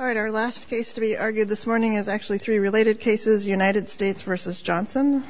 All right, our last case to be argued this morning is actually three related cases, United States v. Johnson.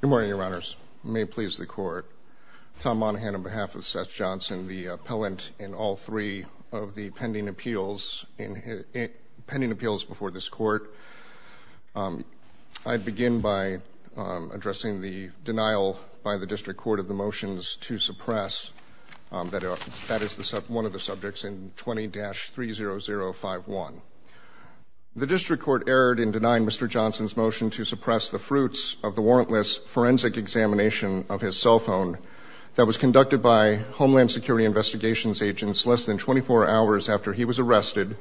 Good morning, Your Honors. May it please the Court, Tom Monahan on behalf of Seth Johnson, the appellant in all three of the pending appeals before this Court, I begin by addressing the denial by the District Court of the motions to suppress that is one of the subjects in 20-30051. The District Court erred in denying Mr. Johnson's motion to suppress the fruits of the warrantless forensic examination of his cell phone that was conducted by Homeland Security investigations agents less than 24 hours after he was arrested,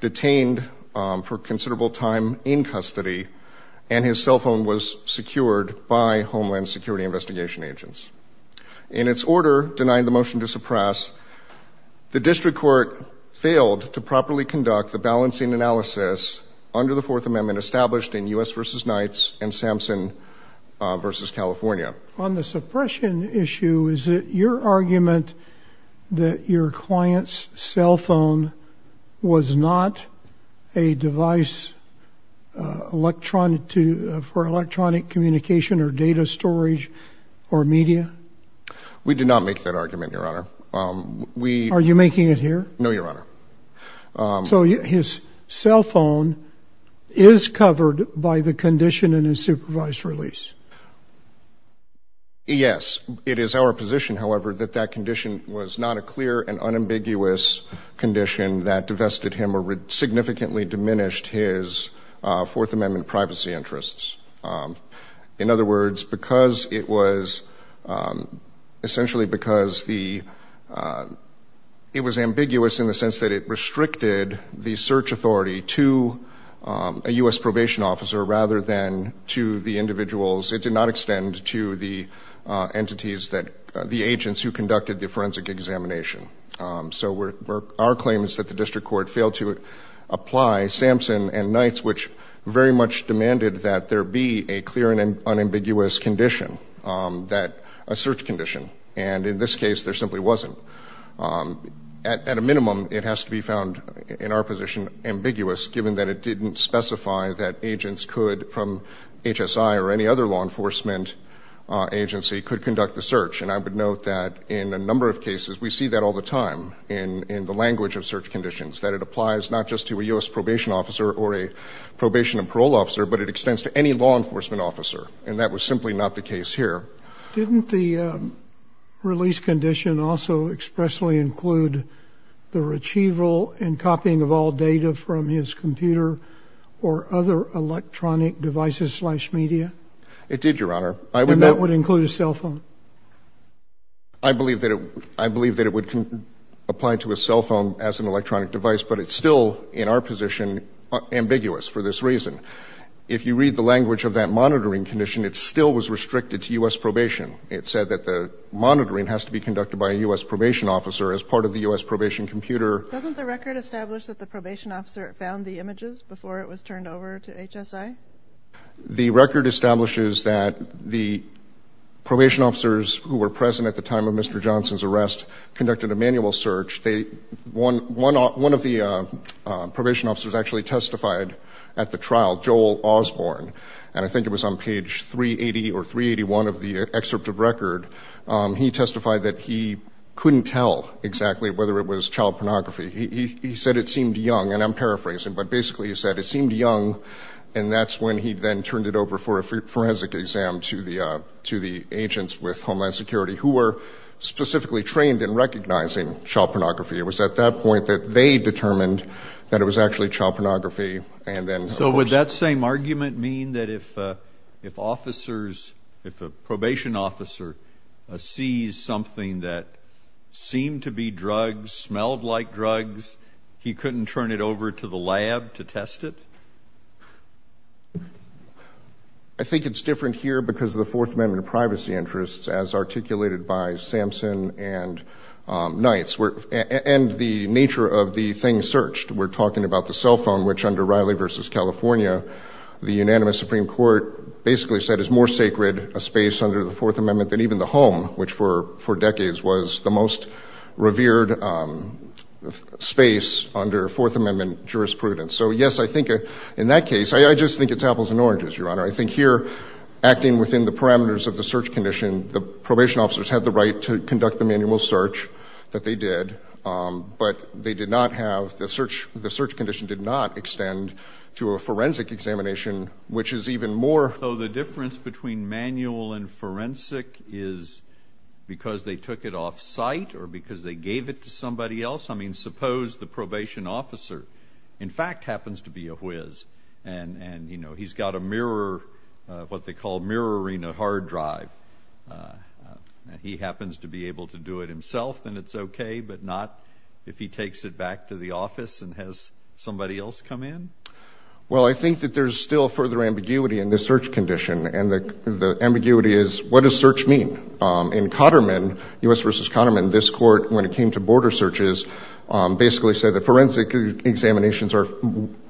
detained for considerable time in custody, and his cell phone was secured by Homeland Security investigation agents. In its order denying the motion to suppress, the District Court failed to properly conduct the balancing analysis under the Fourth Amendment established in U.S. v. Knights and Samson v. California. On the suppression issue, is it your argument that your client's cell phone was not a device for electronic communication or data storage or media? We did not make that argument, Your Honor. Are you making it here? No, Your Honor. So his cell phone is covered by the condition in his supervised release? Yes. It is our position, however, that that condition was not a clear and unambiguous condition that divested him or significantly diminished his Fourth Amendment privacy interests. In other words, because it was essentially because the ‑‑ it was ambiguous in the sense that it restricted the search authority to a U.S. probation officer rather than to the individuals. It did not extend to the entities that ‑‑ the agents who conducted the forensic examination. So our claim is that the District Court failed to apply Samson and Knights, which very much demanded that there be a clear and unambiguous condition, a search condition. And in this case, there simply wasn't. At a minimum, it has to be found, in our position, ambiguous, given that it didn't specify that agents could, from HSI or any other law enforcement agency, could conduct the search. And I would note that in a number of cases, we see that all the time in the language of search conditions, that it applies not just to a U.S. probation officer or a probation and parole officer, but it extends to any law enforcement officer. And that was simply not the case here. Didn't the release condition also expressly include the retrieval and copying of all data from his computer or other electronic devices slash media? It did, Your Honor. And that would include a cell phone? I believe that it would apply to a cell phone as an electronic device, but it's still, in our position, ambiguous for this reason. If you read the language of that monitoring condition, it still was restricted to U.S. probation. It said that the monitoring has to be conducted by a U.S. probation officer as part of the U.S. probation computer. Doesn't the record establish that the probation officer found the images before it was turned over to HSI? The record establishes that the probation officers who were present at the time of Mr. Johnson's arrest conducted a manual search. One of the probation officers actually testified at the trial, Joel Osborne, and I think it was on page 380 or 381 of the excerpt of record. He testified that he couldn't tell exactly whether it was child pornography. He said it seemed young, and I'm paraphrasing, but basically he said it seemed young and that's when he then turned it over for a forensic exam to the agents with Homeland Security who were specifically trained in recognizing child pornography. It was at that point that they determined that it was actually child pornography. So would that same argument mean that if officers, if a probation officer, sees something that seemed to be drugs, smelled like drugs, he couldn't turn it over to the lab to test it? I think it's different here because of the Fourth Amendment privacy interests, as articulated by Sampson and Knights, and the nature of the thing searched. We're talking about the cell phone, which under Riley v. California, the unanimous Supreme Court basically said is more sacred a space under the Fourth Amendment than even the home, which for decades was the most revered space under Fourth Amendment jurisprudence. So, yes, I think in that case, I just think it's apples and oranges, Your Honor. I think here acting within the parameters of the search condition, the probation officers had the right to conduct the manual search that they did, but they did not have the search condition did not extend to a forensic examination, which is even more. So the difference between manual and forensic is because they took it off-site or because they gave it to somebody else? I mean, suppose the probation officer, in fact, happens to be a whiz, and he's got a mirror, what they call mirroring a hard drive. He happens to be able to do it himself, and it's okay, but not if he takes it back to the office and has somebody else come in? Well, I think that there's still further ambiguity in this search condition, and the ambiguity is what does search mean? In Cotterman, U.S. v. Cotterman, this Court, when it came to border searches, basically said that forensic examinations are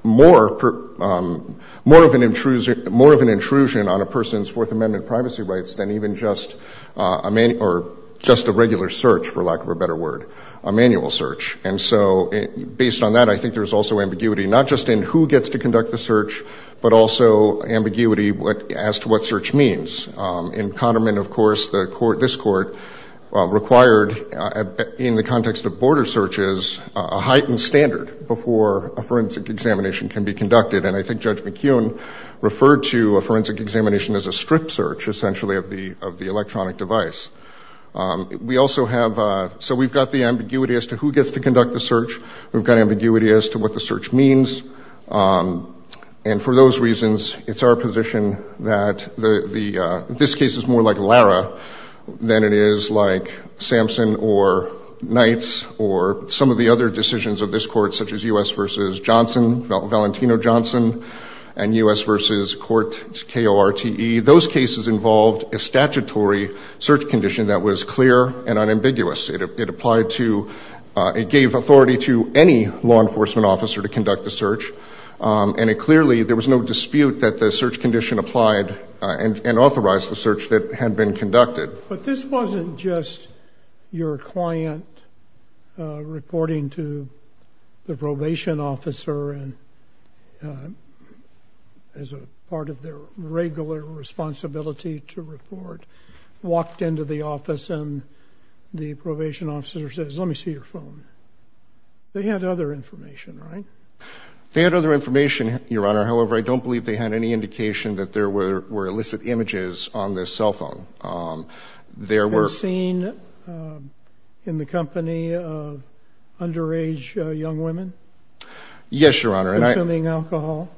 more of an intrusion on a person's Fourth Amendment privacy rights than even just a regular search, for lack of a better word, a manual search. And so based on that, I think there's also ambiguity not just in who gets to conduct the search, but also ambiguity as to what search means. In Cotterman, of course, this Court required, in the context of border searches, a heightened standard before a forensic examination can be conducted, and I think Judge McKeown referred to a forensic examination as a strip search, essentially, of the electronic device. We also have, so we've got the ambiguity as to who gets to conduct the search. We've got ambiguity as to what the search means. And for those reasons, it's our position that this case is more like Lara than it is like Sampson or Knights or some of the other decisions of this Court, such as U.S. v. Johnson, Valentino-Johnson, and U.S. v. Court, K-O-R-T-E. Those cases involved a statutory search condition that was clear and unambiguous. It applied to, it gave authority to any law enforcement officer to conduct the search, and it clearly, there was no dispute that the search condition applied and authorized the search that had been conducted. But this wasn't just your client reporting to the probation officer as a part of their regular responsibility to report, walked into the office, and the probation officer says, let me see your phone. They had other information, right? Yes, Your Honor. However, I don't believe they had any indication that there were illicit images on this cell phone. There were ---- You've been seen in the company of underage young women? Yes, Your Honor. Consuming alcohol?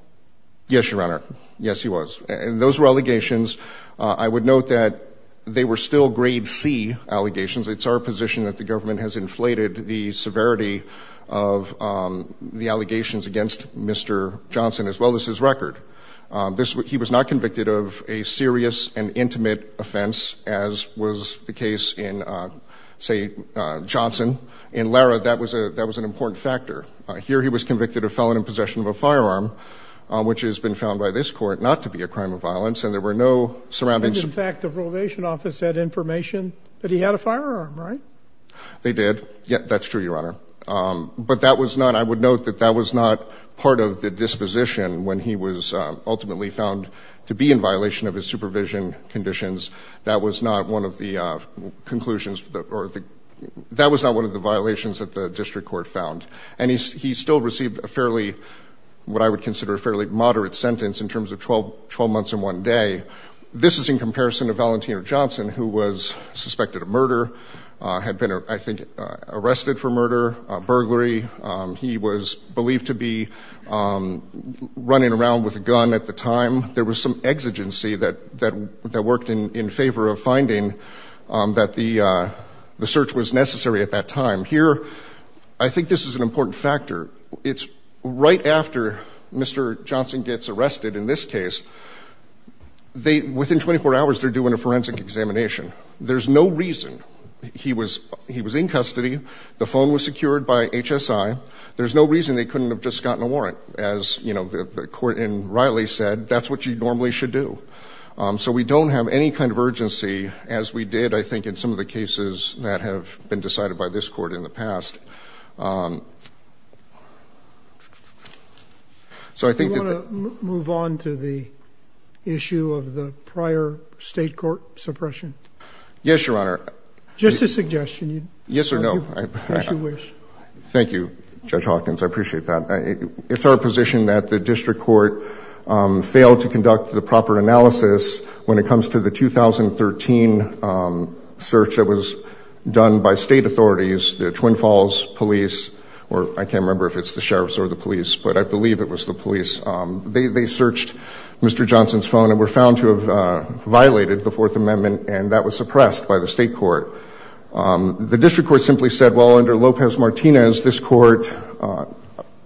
Yes, Your Honor. Yes, he was. And those were allegations. I would note that they were still grade C allegations. It's our position that the government has inflated the severity of the allegations against Mr. Johnson as well as his record. He was not convicted of a serious and intimate offense, as was the case in, say, Johnson and Lara. That was an important factor. Here he was convicted of felon in possession of a firearm, which has been found by this court not to be a crime of violence, and there were no surrounding---- They did. That's true, Your Honor. But that was not ---- I would note that that was not part of the disposition when he was ultimately found to be in violation of his supervision conditions. That was not one of the conclusions or the ---- that was not one of the violations that the district court found. And he still received a fairly ---- what I would consider a fairly moderate sentence in terms of 12 months and one day. This is in comparison to Valentino Johnson, who was suspected of murder, had been, I think, arrested for murder, burglary. He was believed to be running around with a gun at the time. There was some exigency that worked in favor of finding that the search was necessary at that time. Here, I think this is an important factor. It's right after Mr. Johnson gets arrested in this case, they ---- within 24 hours, they're doing a forensic examination. There's no reason. He was in custody. The phone was secured by HSI. There's no reason they couldn't have just gotten a warrant. As, you know, the court in Riley said, that's what you normally should do. So we don't have any kind of urgency, as we did, I think, in some of the cases that have been decided by this court in the past. So I think that the ---- Do you want to move on to the issue of the prior state court suppression? Yes, Your Honor. Just a suggestion. Yes or no? As you wish. Thank you, Judge Hawkins. I appreciate that. It's our position that the district court failed to conduct the proper analysis when it comes to the 2013 search that was done by state authorities, the Twin Falls police, or I can't remember if it's the sheriffs or the police, but I believe it was the police. They searched Mr. Johnson's phone and were found to have violated the Fourth Amendment, and that was suppressed by the state court. The district court simply said, well, under Lopez-Martinez, this court ----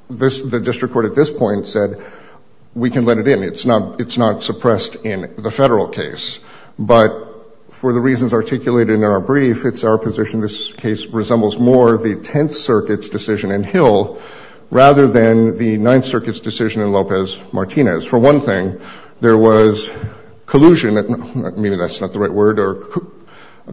the district court at this point said, we can let it in. It's not suppressed in the Federal case. But for the reasons articulated in our brief, it's our position this case resembles more the Tenth Circuit's decision in Hill rather than the Ninth Circuit's decision in Lopez-Martinez. For one thing, there was collusion, maybe that's not the right word, or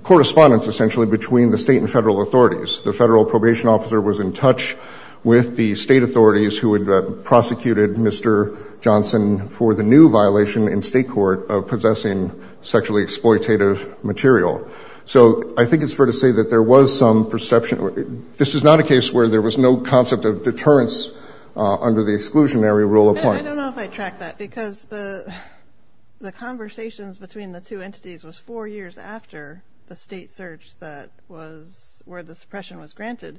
correspondence essentially between the state and Federal authorities. The Federal probation officer was in touch with the state authorities who had prosecuted Mr. Johnson for the new violation in state court of possessing sexually exploitative material. So I think it's fair to say that there was some perception. This is not a case where there was no concept of deterrence under the exclusionary rule of law. I don't know if I track that because the conversations between the two entities was four years after the state search that was where the suppression was granted.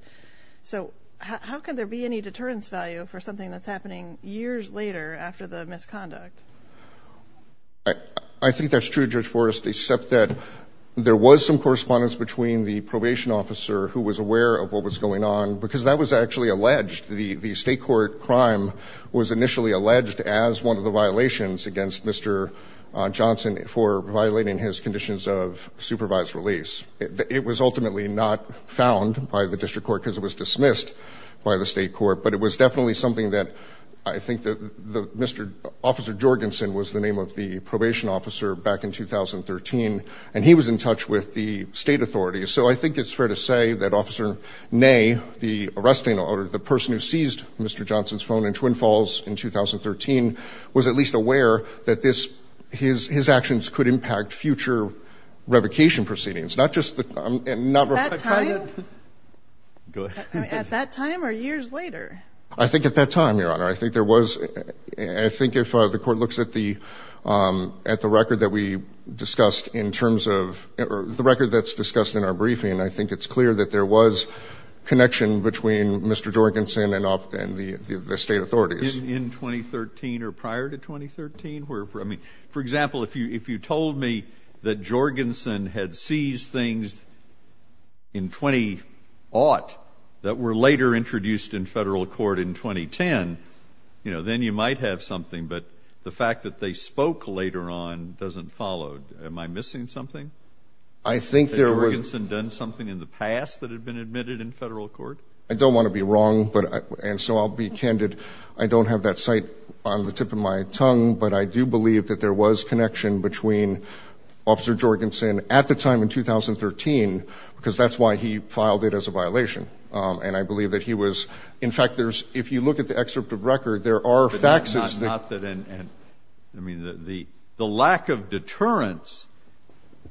So how can there be any deterrence value for something that's happening years later after the misconduct? I think that's true, Judge Forrest, except that there was some correspondence between the probation officer who was aware of what was going on, because that was actually alleged. The state court crime was initially alleged as one of the violations against Mr. Johnson for violating his conditions of supervised release. It was ultimately not found by the district court because it was dismissed by the state court, but it was definitely something that I think that Mr. Officer Jorgensen was the name of the probation officer back in 2013, and he was in touch with the state authorities. So I think it's fair to say that Officer Ney, the arresting or the person who seized Mr. Johnson's phone in Twin Falls in 2013, was at least aware that his actions could impact future revocation proceedings, not just the number of times. At that time? Go ahead. At that time or years later? I think at that time, Your Honor. I think if the court looks at the record that's discussed in our briefing, I think it's clear that there was connection between Mr. Jorgensen and the state authorities. In 2013 or prior to 2013? I mean, for example, if you told me that Jorgensen had seized things in 20-aught that were later introduced in federal court in 2010, then you might have something, but the fact that they spoke later on doesn't follow. Am I missing something? I think there was. Had Jorgensen done something in the past that had been admitted in federal court? I don't want to be wrong, and so I'll be candid. I don't have that cite on the tip of my tongue, but I do believe that there was connection between Officer Jorgensen at the time in 2013, because that's why he filed it as a violation, and I believe that he was. In fact, if you look at the excerpt of the record, there are faxes. I mean, the lack of deterrence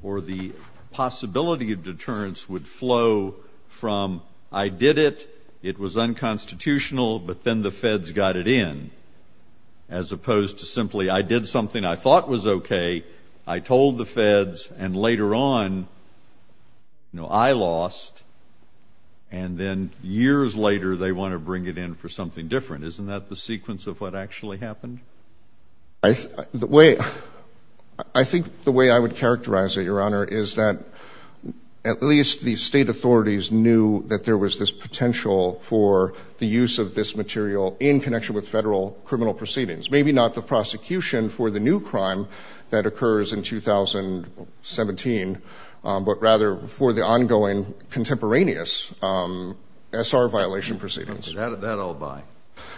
or the possibility of deterrence would flow from I did it, it was unconstitutional, but then the feds got it in, as opposed to simply I did something I thought was okay, I told the feds, and later on I lost, and then years later they want to bring it in for something different. Isn't that the sequence of what actually happened? I think the way I would characterize it, Your Honor, is that at least the state authorities knew that there was this potential for the use of this material in connection with federal criminal proceedings, maybe not the prosecution for the new crime that occurs in 2017, but rather for the ongoing contemporaneous S.R. violation proceedings. Okay. That I'll buy.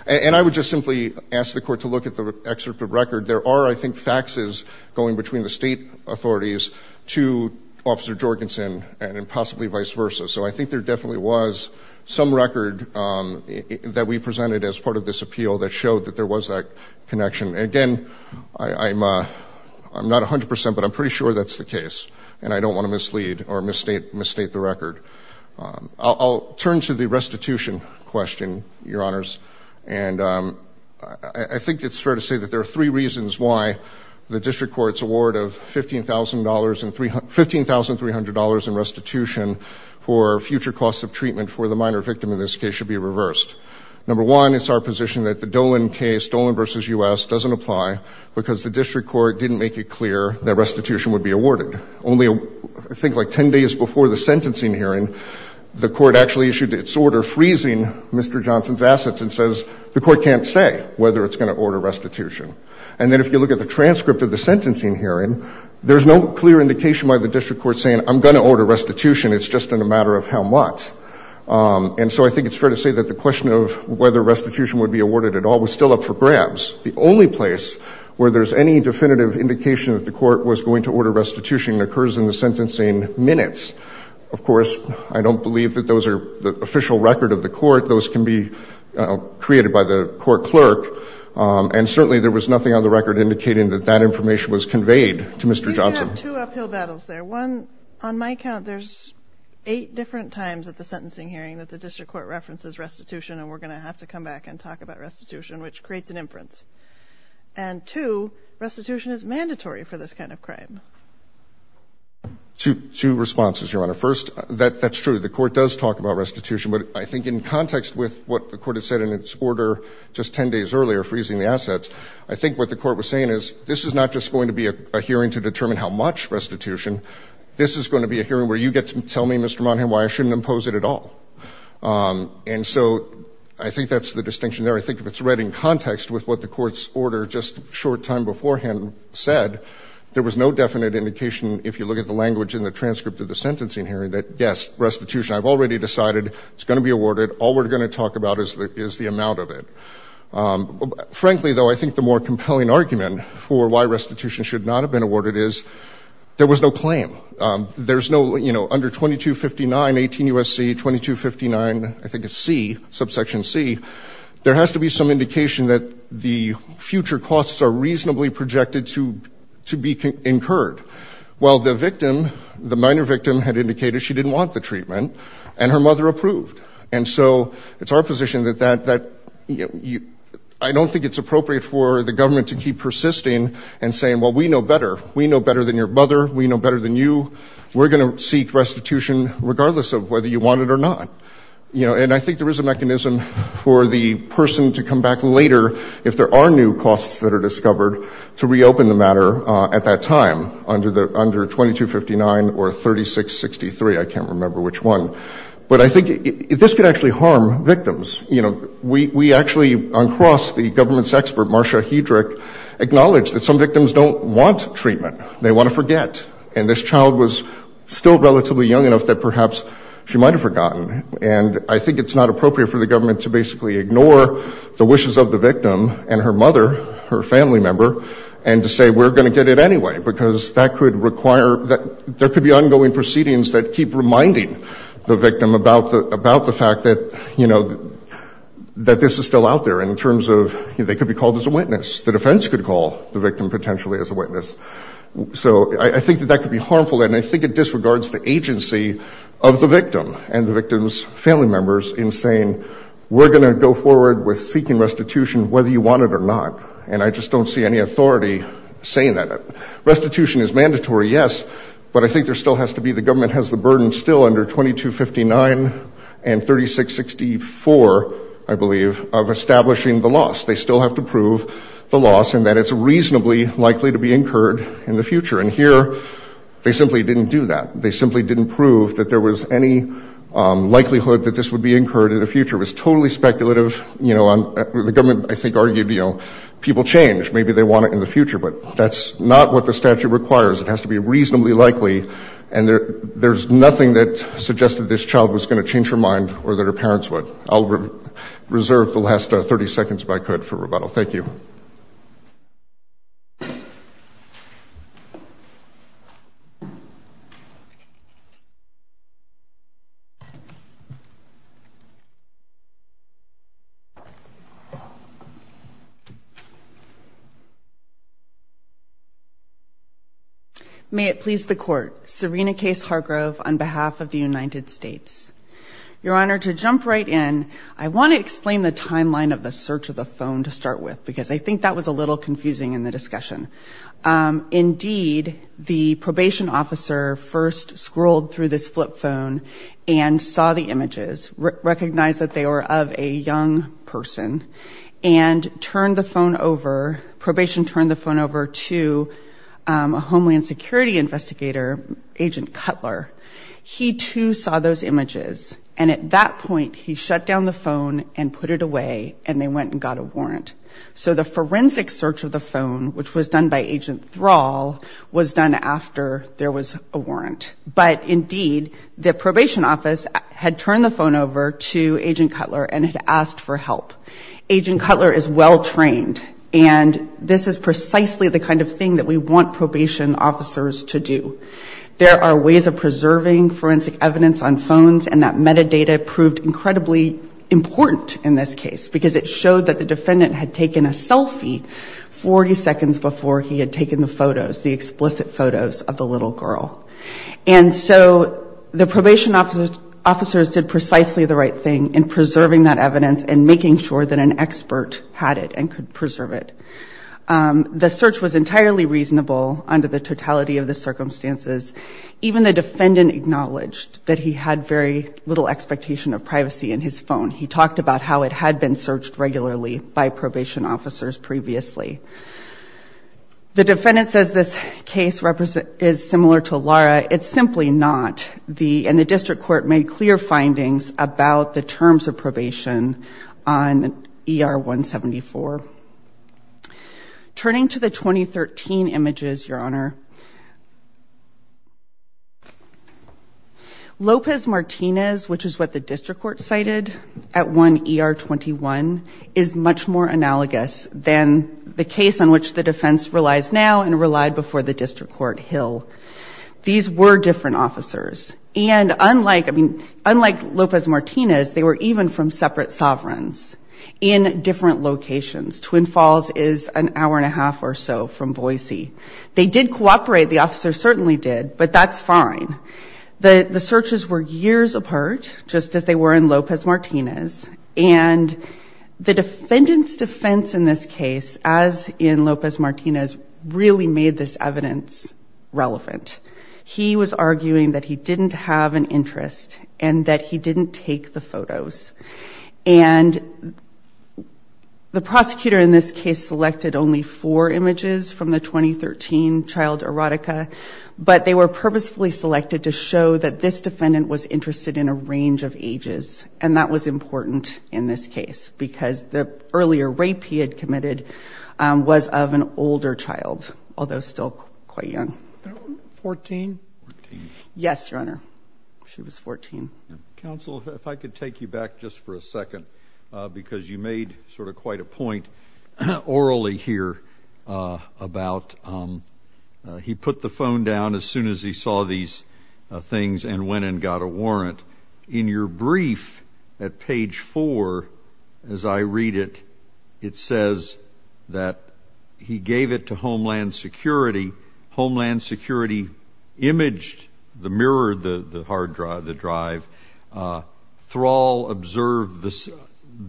And I would just simply ask the Court to look at the excerpt of the record. There are, I think, faxes going between the state authorities to Officer Jorgensen and possibly vice versa. So I think there definitely was some record that we presented as part of this appeal that showed that there was that connection. Again, I'm not 100 percent, but I'm pretty sure that's the case, and I don't want to mislead or misstate the record. I'll turn to the restitution question, Your Honors. And I think it's fair to say that there are three reasons why the district court's award of $15,300 in restitution for future costs of treatment for the minor victim in this case should be reversed. Number one, it's our position that the Dolan case, Dolan v. U.S., doesn't apply because the district court didn't make it clear that restitution would be awarded. Only, I think, like ten days before the sentencing hearing, the court actually issued its order freezing Mr. Johnson's assets and says the court can't say whether it's going to order restitution. And then if you look at the transcript of the sentencing hearing, there's no clear indication why the district court's saying I'm going to order restitution. It's just a matter of how much. And so I think it's fair to say that the question of whether restitution would be awarded at all was still up for grabs. The only place where there's any definitive indication that the court was going to order restitution occurs in the sentencing minutes. Of course, I don't believe that those are the official record of the court. Those can be created by the court clerk. And certainly there was nothing on the record indicating that that information was conveyed to Mr. Johnson. You have two uphill battles there. One, on my count, there's eight different times at the sentencing hearing that the district court references restitution, and we're going to have to come back and talk about restitution, which creates an inference. And two, restitution is mandatory for this kind of crime. Horwich. Two responses, Your Honor. First, that's true. The court does talk about restitution. But I think in context with what the court has said in its order just 10 days earlier, freezing the assets, I think what the court was saying is this is not just going to be a hearing to determine how much restitution. This is going to be a hearing where you get to tell me, Mr. Monahan, why I shouldn't impose it at all. And so I think that's the distinction there. I think if it's read in context with what the court's order just a short time beforehand said, there was no definite indication, if you look at the language in the transcript of the sentencing hearing, that, yes, restitution. I've already decided it's going to be awarded. All we're going to talk about is the amount of it. Frankly, though, I think the more compelling argument for why restitution should not have been awarded is there was no claim. There's no, you know, under 2259, 18 U.S.C., 2259, I think it's C, subsection C, there has to be some indication that the future costs are reasonably projected to be incurred. Well, the victim, the minor victim, had indicated she didn't want the treatment, and her mother approved. And so it's our position that I don't think it's appropriate for the government to keep persisting and saying, well, we know better. We know better than your mother. We know better than you. We're going to seek restitution regardless of whether you want it or not. You know, and I think there is a mechanism for the person to come back later, if there are new costs that are discovered, to reopen the matter at that time, under 2259 or 3663. I can't remember which one. But I think this could actually harm victims. You know, we actually, on cross, the government's expert, Marcia Hedrick, acknowledged that some victims don't want treatment. They want to forget. And this child was still relatively young enough that perhaps she might have forgotten. And I think it's not appropriate for the government to basically ignore the wishes of the victim and her mother, her family member, and to say we're going to get it anyway, because that could require that there could be ongoing proceedings that keep reminding the victim about the fact that, you know, that this is still out there in terms of they could be called as a witness. The defense could call the victim potentially as a witness. So I think that that could be harmful, and I think it disregards the agency of the victim and the victim's family members in saying we're going to go forward with seeking restitution whether you want it or not. And I just don't see any authority saying that. Restitution is mandatory, yes, but I think there still has to be, the government has the burden still under 2259 and 3664, I believe, of establishing the loss. They still have to prove the loss and that it's reasonably likely to be incurred in the future. And here they simply didn't do that. They simply didn't prove that there was any likelihood that this would be incurred in the future. It was totally speculative. You know, the government, I think, argued, you know, people change, maybe they want it in the future. But that's not what the statute requires. It has to be reasonably likely. And there's nothing that suggested this child was going to change her mind or that her parents would. I'll reserve the last 30 seconds if I could for rebuttal. Thank you. May it please the Court. Serena Case Hargrove on behalf of the United States. Your Honor, to jump right in, I want to explain the timeline of the search of the images. I think that was a little confusing in the discussion. Indeed, the probation officer first scrolled through this flip phone and saw the images, recognized that they were of a young person, and turned the phone over, probation turned the phone over to a Homeland Security investigator, Agent Cutler. He, too, saw those images. And at that point, he shut down the phone and put it away, and they went and got a warrant. The forensic search of the phone, which was done by Agent Thrall, was done after there was a warrant. But, indeed, the probation office had turned the phone over to Agent Cutler and had asked for help. Agent Cutler is well trained. And this is precisely the kind of thing that we want probation officers to do. There are ways of preserving forensic evidence on phones, and that metadata proved incredibly important in this case, because it showed that the defendant had taken a selfie 40 seconds before he had taken the photos, the explicit photos of the little girl. And so the probation officers did precisely the right thing in preserving that evidence and making sure that an expert had it and could preserve it. The search was entirely reasonable under the totality of the circumstances. Even the defendant acknowledged that he had very little expectation of privacy in his phone. He talked about how it had been searched regularly by probation officers previously. The defendant says this case is similar to Lara. It's simply not. And the district court made clear findings about the terms of probation on ER 174. Turning to the 2013 images, Your Honor, Lopez Martinez, which is what the district court cited at 1ER21, is much more analogous than the case on which the defense relies now and relied before the district court Hill. These were different officers. And unlike Lopez Martinez, they were even from separate sovereigns in different locations, Twin Falls is an hour and a half or so from Boise. They did cooperate. The officer certainly did. But that's fine. The searches were years apart, just as they were in Lopez Martinez. And the defendant's defense in this case, as in Lopez Martinez, really made this evidence relevant. He was arguing that he didn't have an interest and that he didn't take the photos. And the prosecutor in this case selected only four images from the 2013 child erotica. But they were purposefully selected to show that this defendant was interested in a range of ages. And that was important in this case because the earlier rape he had committed was of an older child, although still quite young. Fourteen? Fourteen. Yes, Your Honor. She was 14. Counsel, if I could take you back just for a second, because you made sort of quite a point orally here about he put the phone down as soon as he saw these things and went and got a warrant. In your brief at page four, as I read it, it says that he gave it to Homeland Security. Homeland Security imaged, mirrored the drive. Thrall observed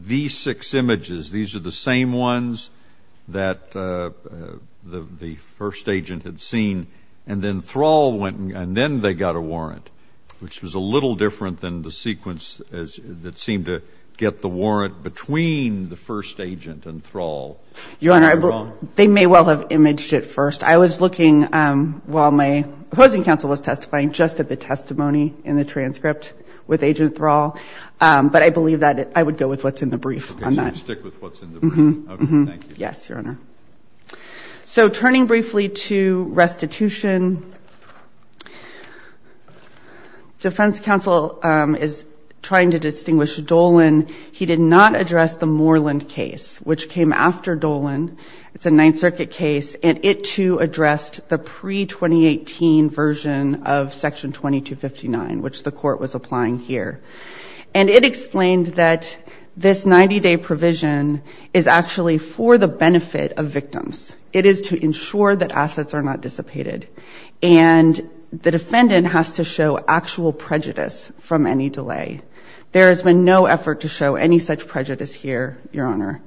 these six images. These are the same ones that the first agent had seen. And then Thrall went and then they got a warrant, which was a little different than the sequence that seemed to get the warrant between the first agent and Thrall. Your Honor, they may well have imaged it first. I was looking while my opposing counsel was testifying just at the testimony in the transcript with Agent Thrall. But I believe that I would go with what's in the brief on that. Okay. So you stick with what's in the brief. Okay. Thank you. Yes, Your Honor. So turning briefly to restitution, defense counsel is trying to distinguish between a 90-day provision and a 90-day provision. And I'm going to use the example of Senator Dolan. It's a Ninth Circuit case. And it, too, addressed the pre-2018 version of Section 2259, which the court was applying here. And it explained that this 90-day provision is actually for the benefit of victims. It is to ensure that assets are not dissipated. And the defendant has to show actual prejudice from any delay. There has been no effort to show any such prejudice here, Your Honor.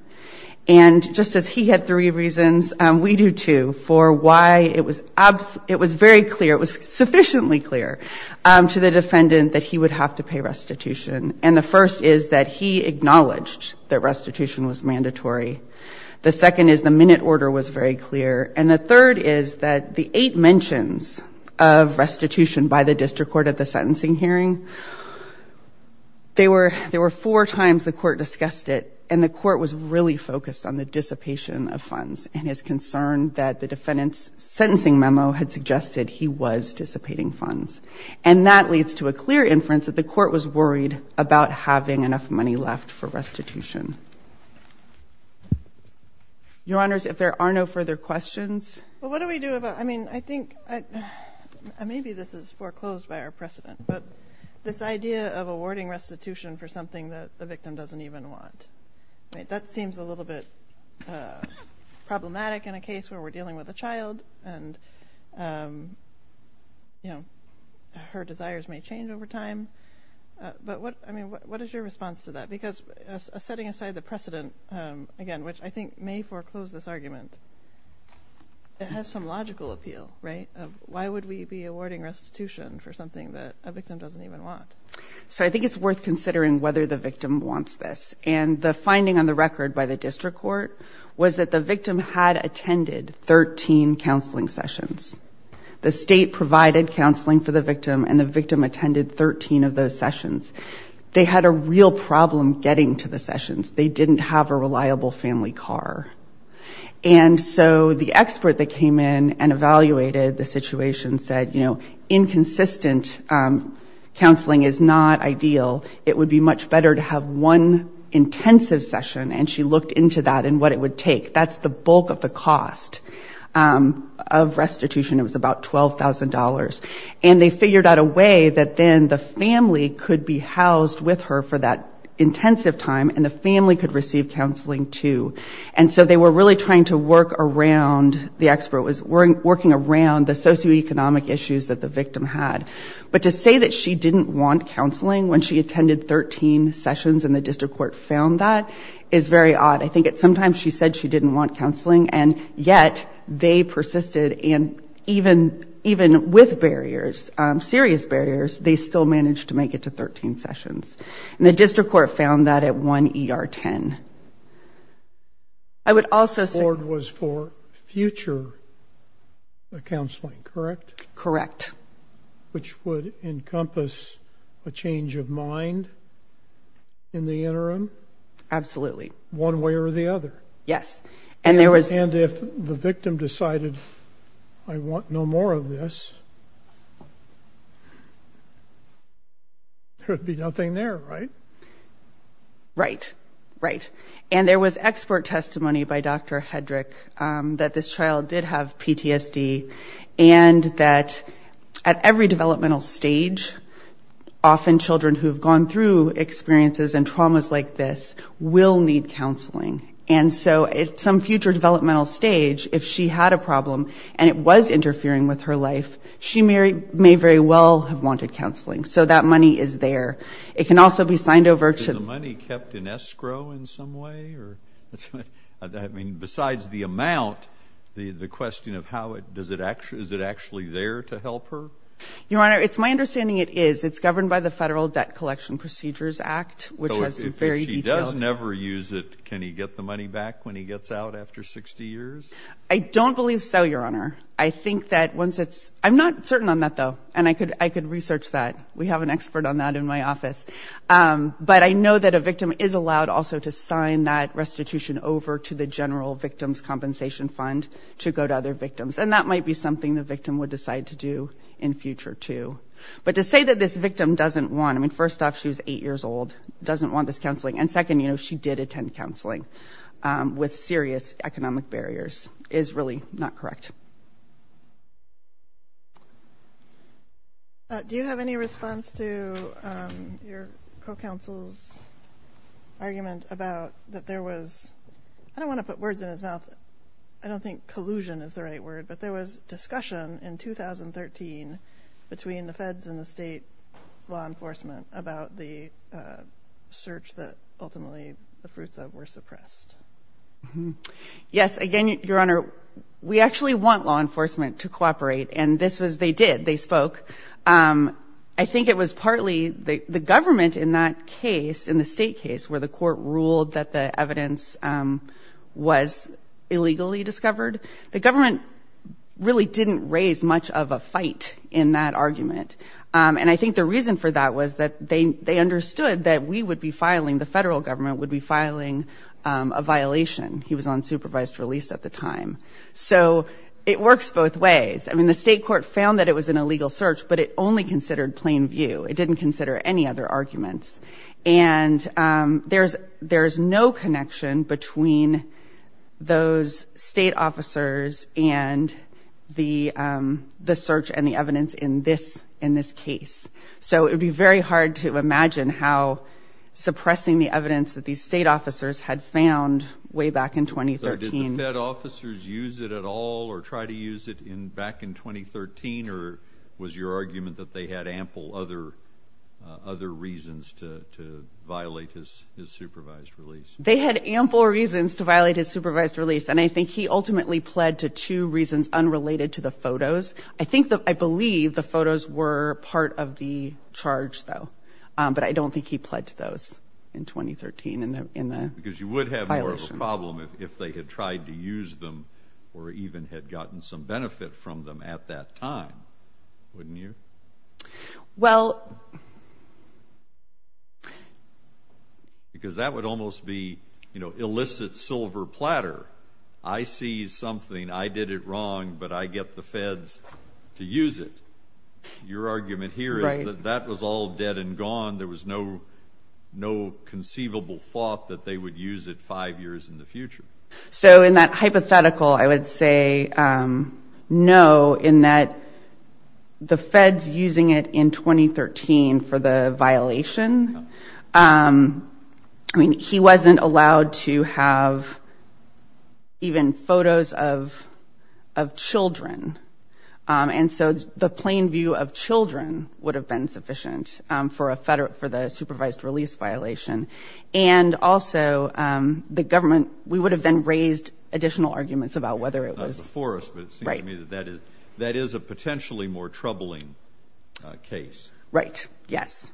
And just as he had three reasons, we do, too, for why it was very clear, it was sufficiently clear to the defendant that he would have to pay restitution. And the first is that he acknowledged that restitution was mandatory. The second is the minute order was very clear. And the third is that the eight mentions of restitution by the district court at the sentencing hearing, there were four times the court discussed it, and the court was really focused on the dissipation of funds and his concern that the defendant's sentencing memo had suggested he was dissipating funds. And that leads to a clear inference that the court was worried about having enough money left for restitution. Your Honors, if there are no further questions. Well, what do we do about, I mean, I think, maybe this is foreclosed by our precedent, but this idea of awarding restitution for something that the victim doesn't even want. That seems a little bit problematic in a case where we're dealing with a child and, you know, her desires may change over time. But what, I mean, what is your response to that? Because setting aside the precedent, again, which I think may foreclose this argument, it has some logical appeal, right? Why would we be awarding restitution for something that a victim doesn't even want? So I think it's worth considering whether the victim wants this. And the finding on the record by the district court was that the victim had attended 13 counseling sessions. The state provided counseling for the victim, and the victim attended 13 of those sessions. They had a real problem getting to the sessions. They didn't have a reliable family car. And so the expert that came in and evaluated the situation said, you know, inconsistent counseling is not ideal. It would be much better to have one intensive session, and she looked into that and what it would take. That's the bulk of the cost of restitution. It was about $12,000. And they figured out a way that then the family could be housed with her for that intensive time, and the family could receive counseling, too. And so they were really trying to work around, the expert was working around the socioeconomic issues that the victim had. But to say that she didn't want counseling when she attended 13 sessions and the district court found that is very odd. I think sometimes she said she didn't want counseling, and yet they persisted, and even with barriers, serious barriers, they still managed to make it to 13 sessions. And the district court found that at one ER 10. The board was for future counseling, correct? Correct. Which would encompass a change of mind in the interim? Absolutely. One way or the other. And if the victim decided, I want no more of this, there would be nothing there, right? Right. And there was expert testimony by Dr. Hedrick that this child did have PTSD, and that at every developmental stage, often children who have gone through experiences and traumas like this will need counseling. And so at some future developmental stage, if she had a problem and it was interfering with her life, she may very well have wanted counseling. So that money is there. It can also be signed over to the... Is the money kept in escrow in some way? I mean, besides the amount, the question of how, is it actually there to help her? Your Honor, it's my understanding it is. It's governed by the Federal Debt Collection Procedures Act, which has very detailed... But I know that a victim is allowed also to sign that restitution over to the General Victim's Compensation Fund to go to other victims. And that might be something the victim would decide to do in future, too. But to say that this victim doesn't want... I mean, first off, she was eight years old, doesn't want this counseling. And second, she did attend counseling with serious economic barriers is really not correct. Do you have any response to your co-counsel's argument about that there was... I don't want to put words in his mouth. I don't think collusion is the right word, but there was discussion in 2013 between the feds and the state law enforcement about the search that ultimately the fruits of were suppressed. Yes. Again, Your Honor, we actually want law enforcement to cooperate, and this was... They did. They spoke. I think it was partly the government in that case, in the state case, where the court ruled that the evidence was illegally discovered. The government really didn't raise much of a fight in that argument. And I think the reason for that was that they understood that we would be filing, the federal government would be filing a violation. He was on supervised release at the time. So it works both ways. I mean, the state court found that it was an illegal search, but it only considered plain view. It didn't consider any other arguments. And there's no connection between those state officers and the search and the evidence in this case. So it would be very hard to imagine how suppressing the evidence that these state officers had found way back in 2013... Other reasons to violate his supervised release. They had ample reasons to violate his supervised release, and I think he ultimately pled to two reasons unrelated to the photos. I believe the photos were part of the charge, though, but I don't think he pled to those in 2013 in the violation. You would have more of a problem if they had tried to use them or even had gotten some benefit from them at that time, wouldn't you? Well... Because that would almost be illicit silver platter. I see something, I did it wrong, but I get the feds to use it. Your argument here is that that was all dead and gone, there was no conceivable thought that they would use it five years in the future. So in that hypothetical, I would say no, in that the feds using it in 2013 for the violation, he wasn't allowed to have even photos of children. And so the plain view of children would have been sufficient for the supervised release violation. And also the government, we would have then raised additional arguments about whether it was... Not before us, but it seems to me that that is a potentially more troubling case. Right, yes.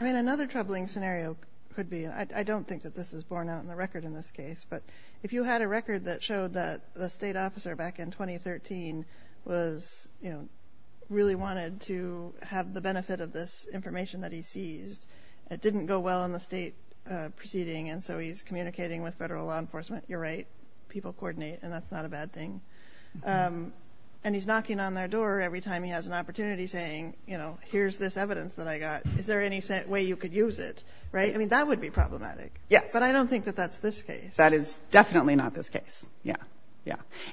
I mean, another troubling scenario could be, I don't think that this is borne out in the record in this case, but if you had a record that showed that the state officer back in 2013 really wanted to have the benefit of this information that he seized, it didn't go well in the state proceeding, and so he's communicating with federal law enforcement, you're right, people coordinate, and that's not a bad thing. And he's knocking on their door every time he has an opportunity saying, you know, here's this evidence that I got, is there any way you could use it, right? I mean, that would be problematic. But I don't think that that's this case. That is definitely not this case.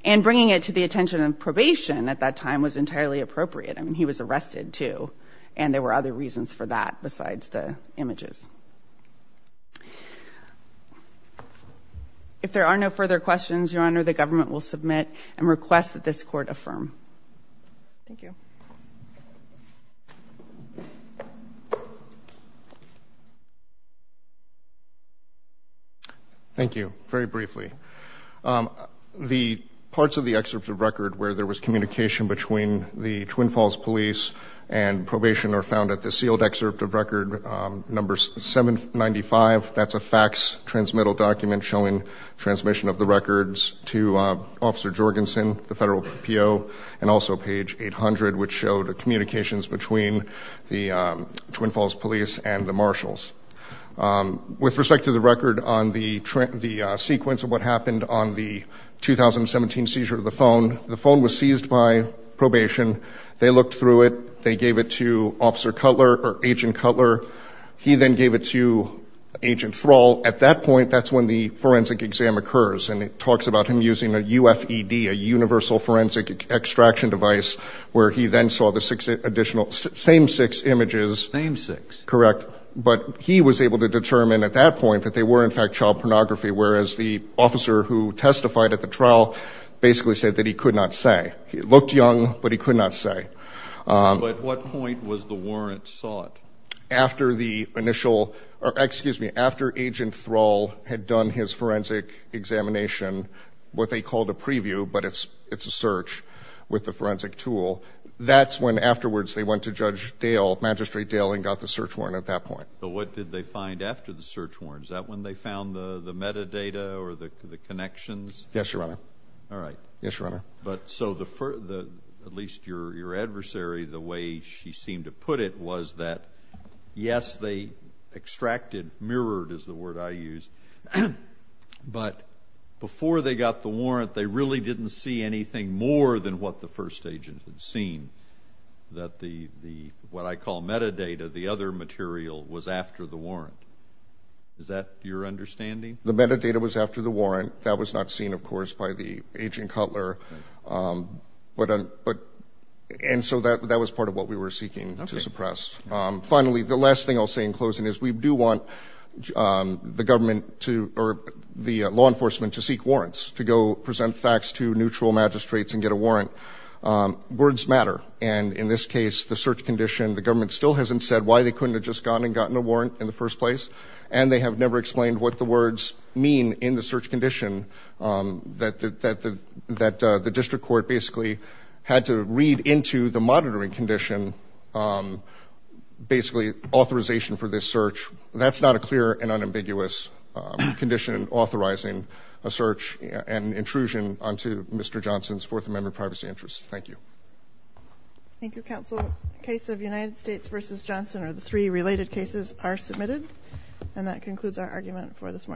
And bringing it to the attention of probation at that time was entirely appropriate. I mean, he was arrested, too, and there were other reasons for that besides the images. If there are no further questions, Your Honor, the government will submit and request that this Court affirm. Thank you. Thank you. Very briefly. The parts of the excerpt of record where there was communication between the Twin Falls Police and probation are found at the sealed excerpt of record number 795. That's a fax transmittal document showing transmission of the records to Officer Jorgensen, the federal PO, and also page 800, which showed communications between the Twin Falls Police and the marshals. With respect to the record on the sequence of what happened on the 2017 seizure of the phone, the phone was seized by probation. They looked through it. They gave it to Officer Cutler or Agent Cutler. He then gave it to Agent Thrall. At that point, that's when the forensic exam occurs. And it talks about him using a UFED, a universal forensic extraction device, where he then saw the six additional, same six images. Same six. Correct. But he was able to determine at that point that they were in fact child pornography, whereas the officer who testified at the trial basically said that he could not say. He looked young, but he could not say. But at what point was the warrant sought? After Agent Thrall had done his forensic examination, what they called a preview, but it's a search with the forensic tool, that's when afterwards they went to Judge Dale, Magistrate Dale, and got the search warrant at that point. But what did they find after the search warrant? Is that when they found the metadata or the connections? Yes, Your Honor. All right. At least your adversary, the way she seemed to put it was that, yes, they extracted, mirrored is the word I use, but before they got the warrant, they really didn't see anything more than what the first agent had seen, that what I call metadata, the other material, was after the warrant. Is that your understanding? The metadata was after the warrant. That was not seen, of course, by the agent Cutler. And so that was part of what we were seeking to suppress. Finally, the last thing I'll say in closing is we do want the government to, or the law enforcement to seek warrants, to go present facts to neutral magistrates and get a warrant. Words matter, and in this case, the search condition, the government still hasn't said why they couldn't have just gone and gotten a warrant in the first place, and they have never explained what the words mean in the search condition that the district court basically had to read into the monitoring condition, basically authorization for this search. That's not a clear and unambiguous condition authorizing a search and intrusion onto Mr. Johnson's Fourth Amendment Privacy Act. Thank you, Counsel. The case of United States v. Johnson, or the three related cases, are submitted. And that concludes our argument for this morning.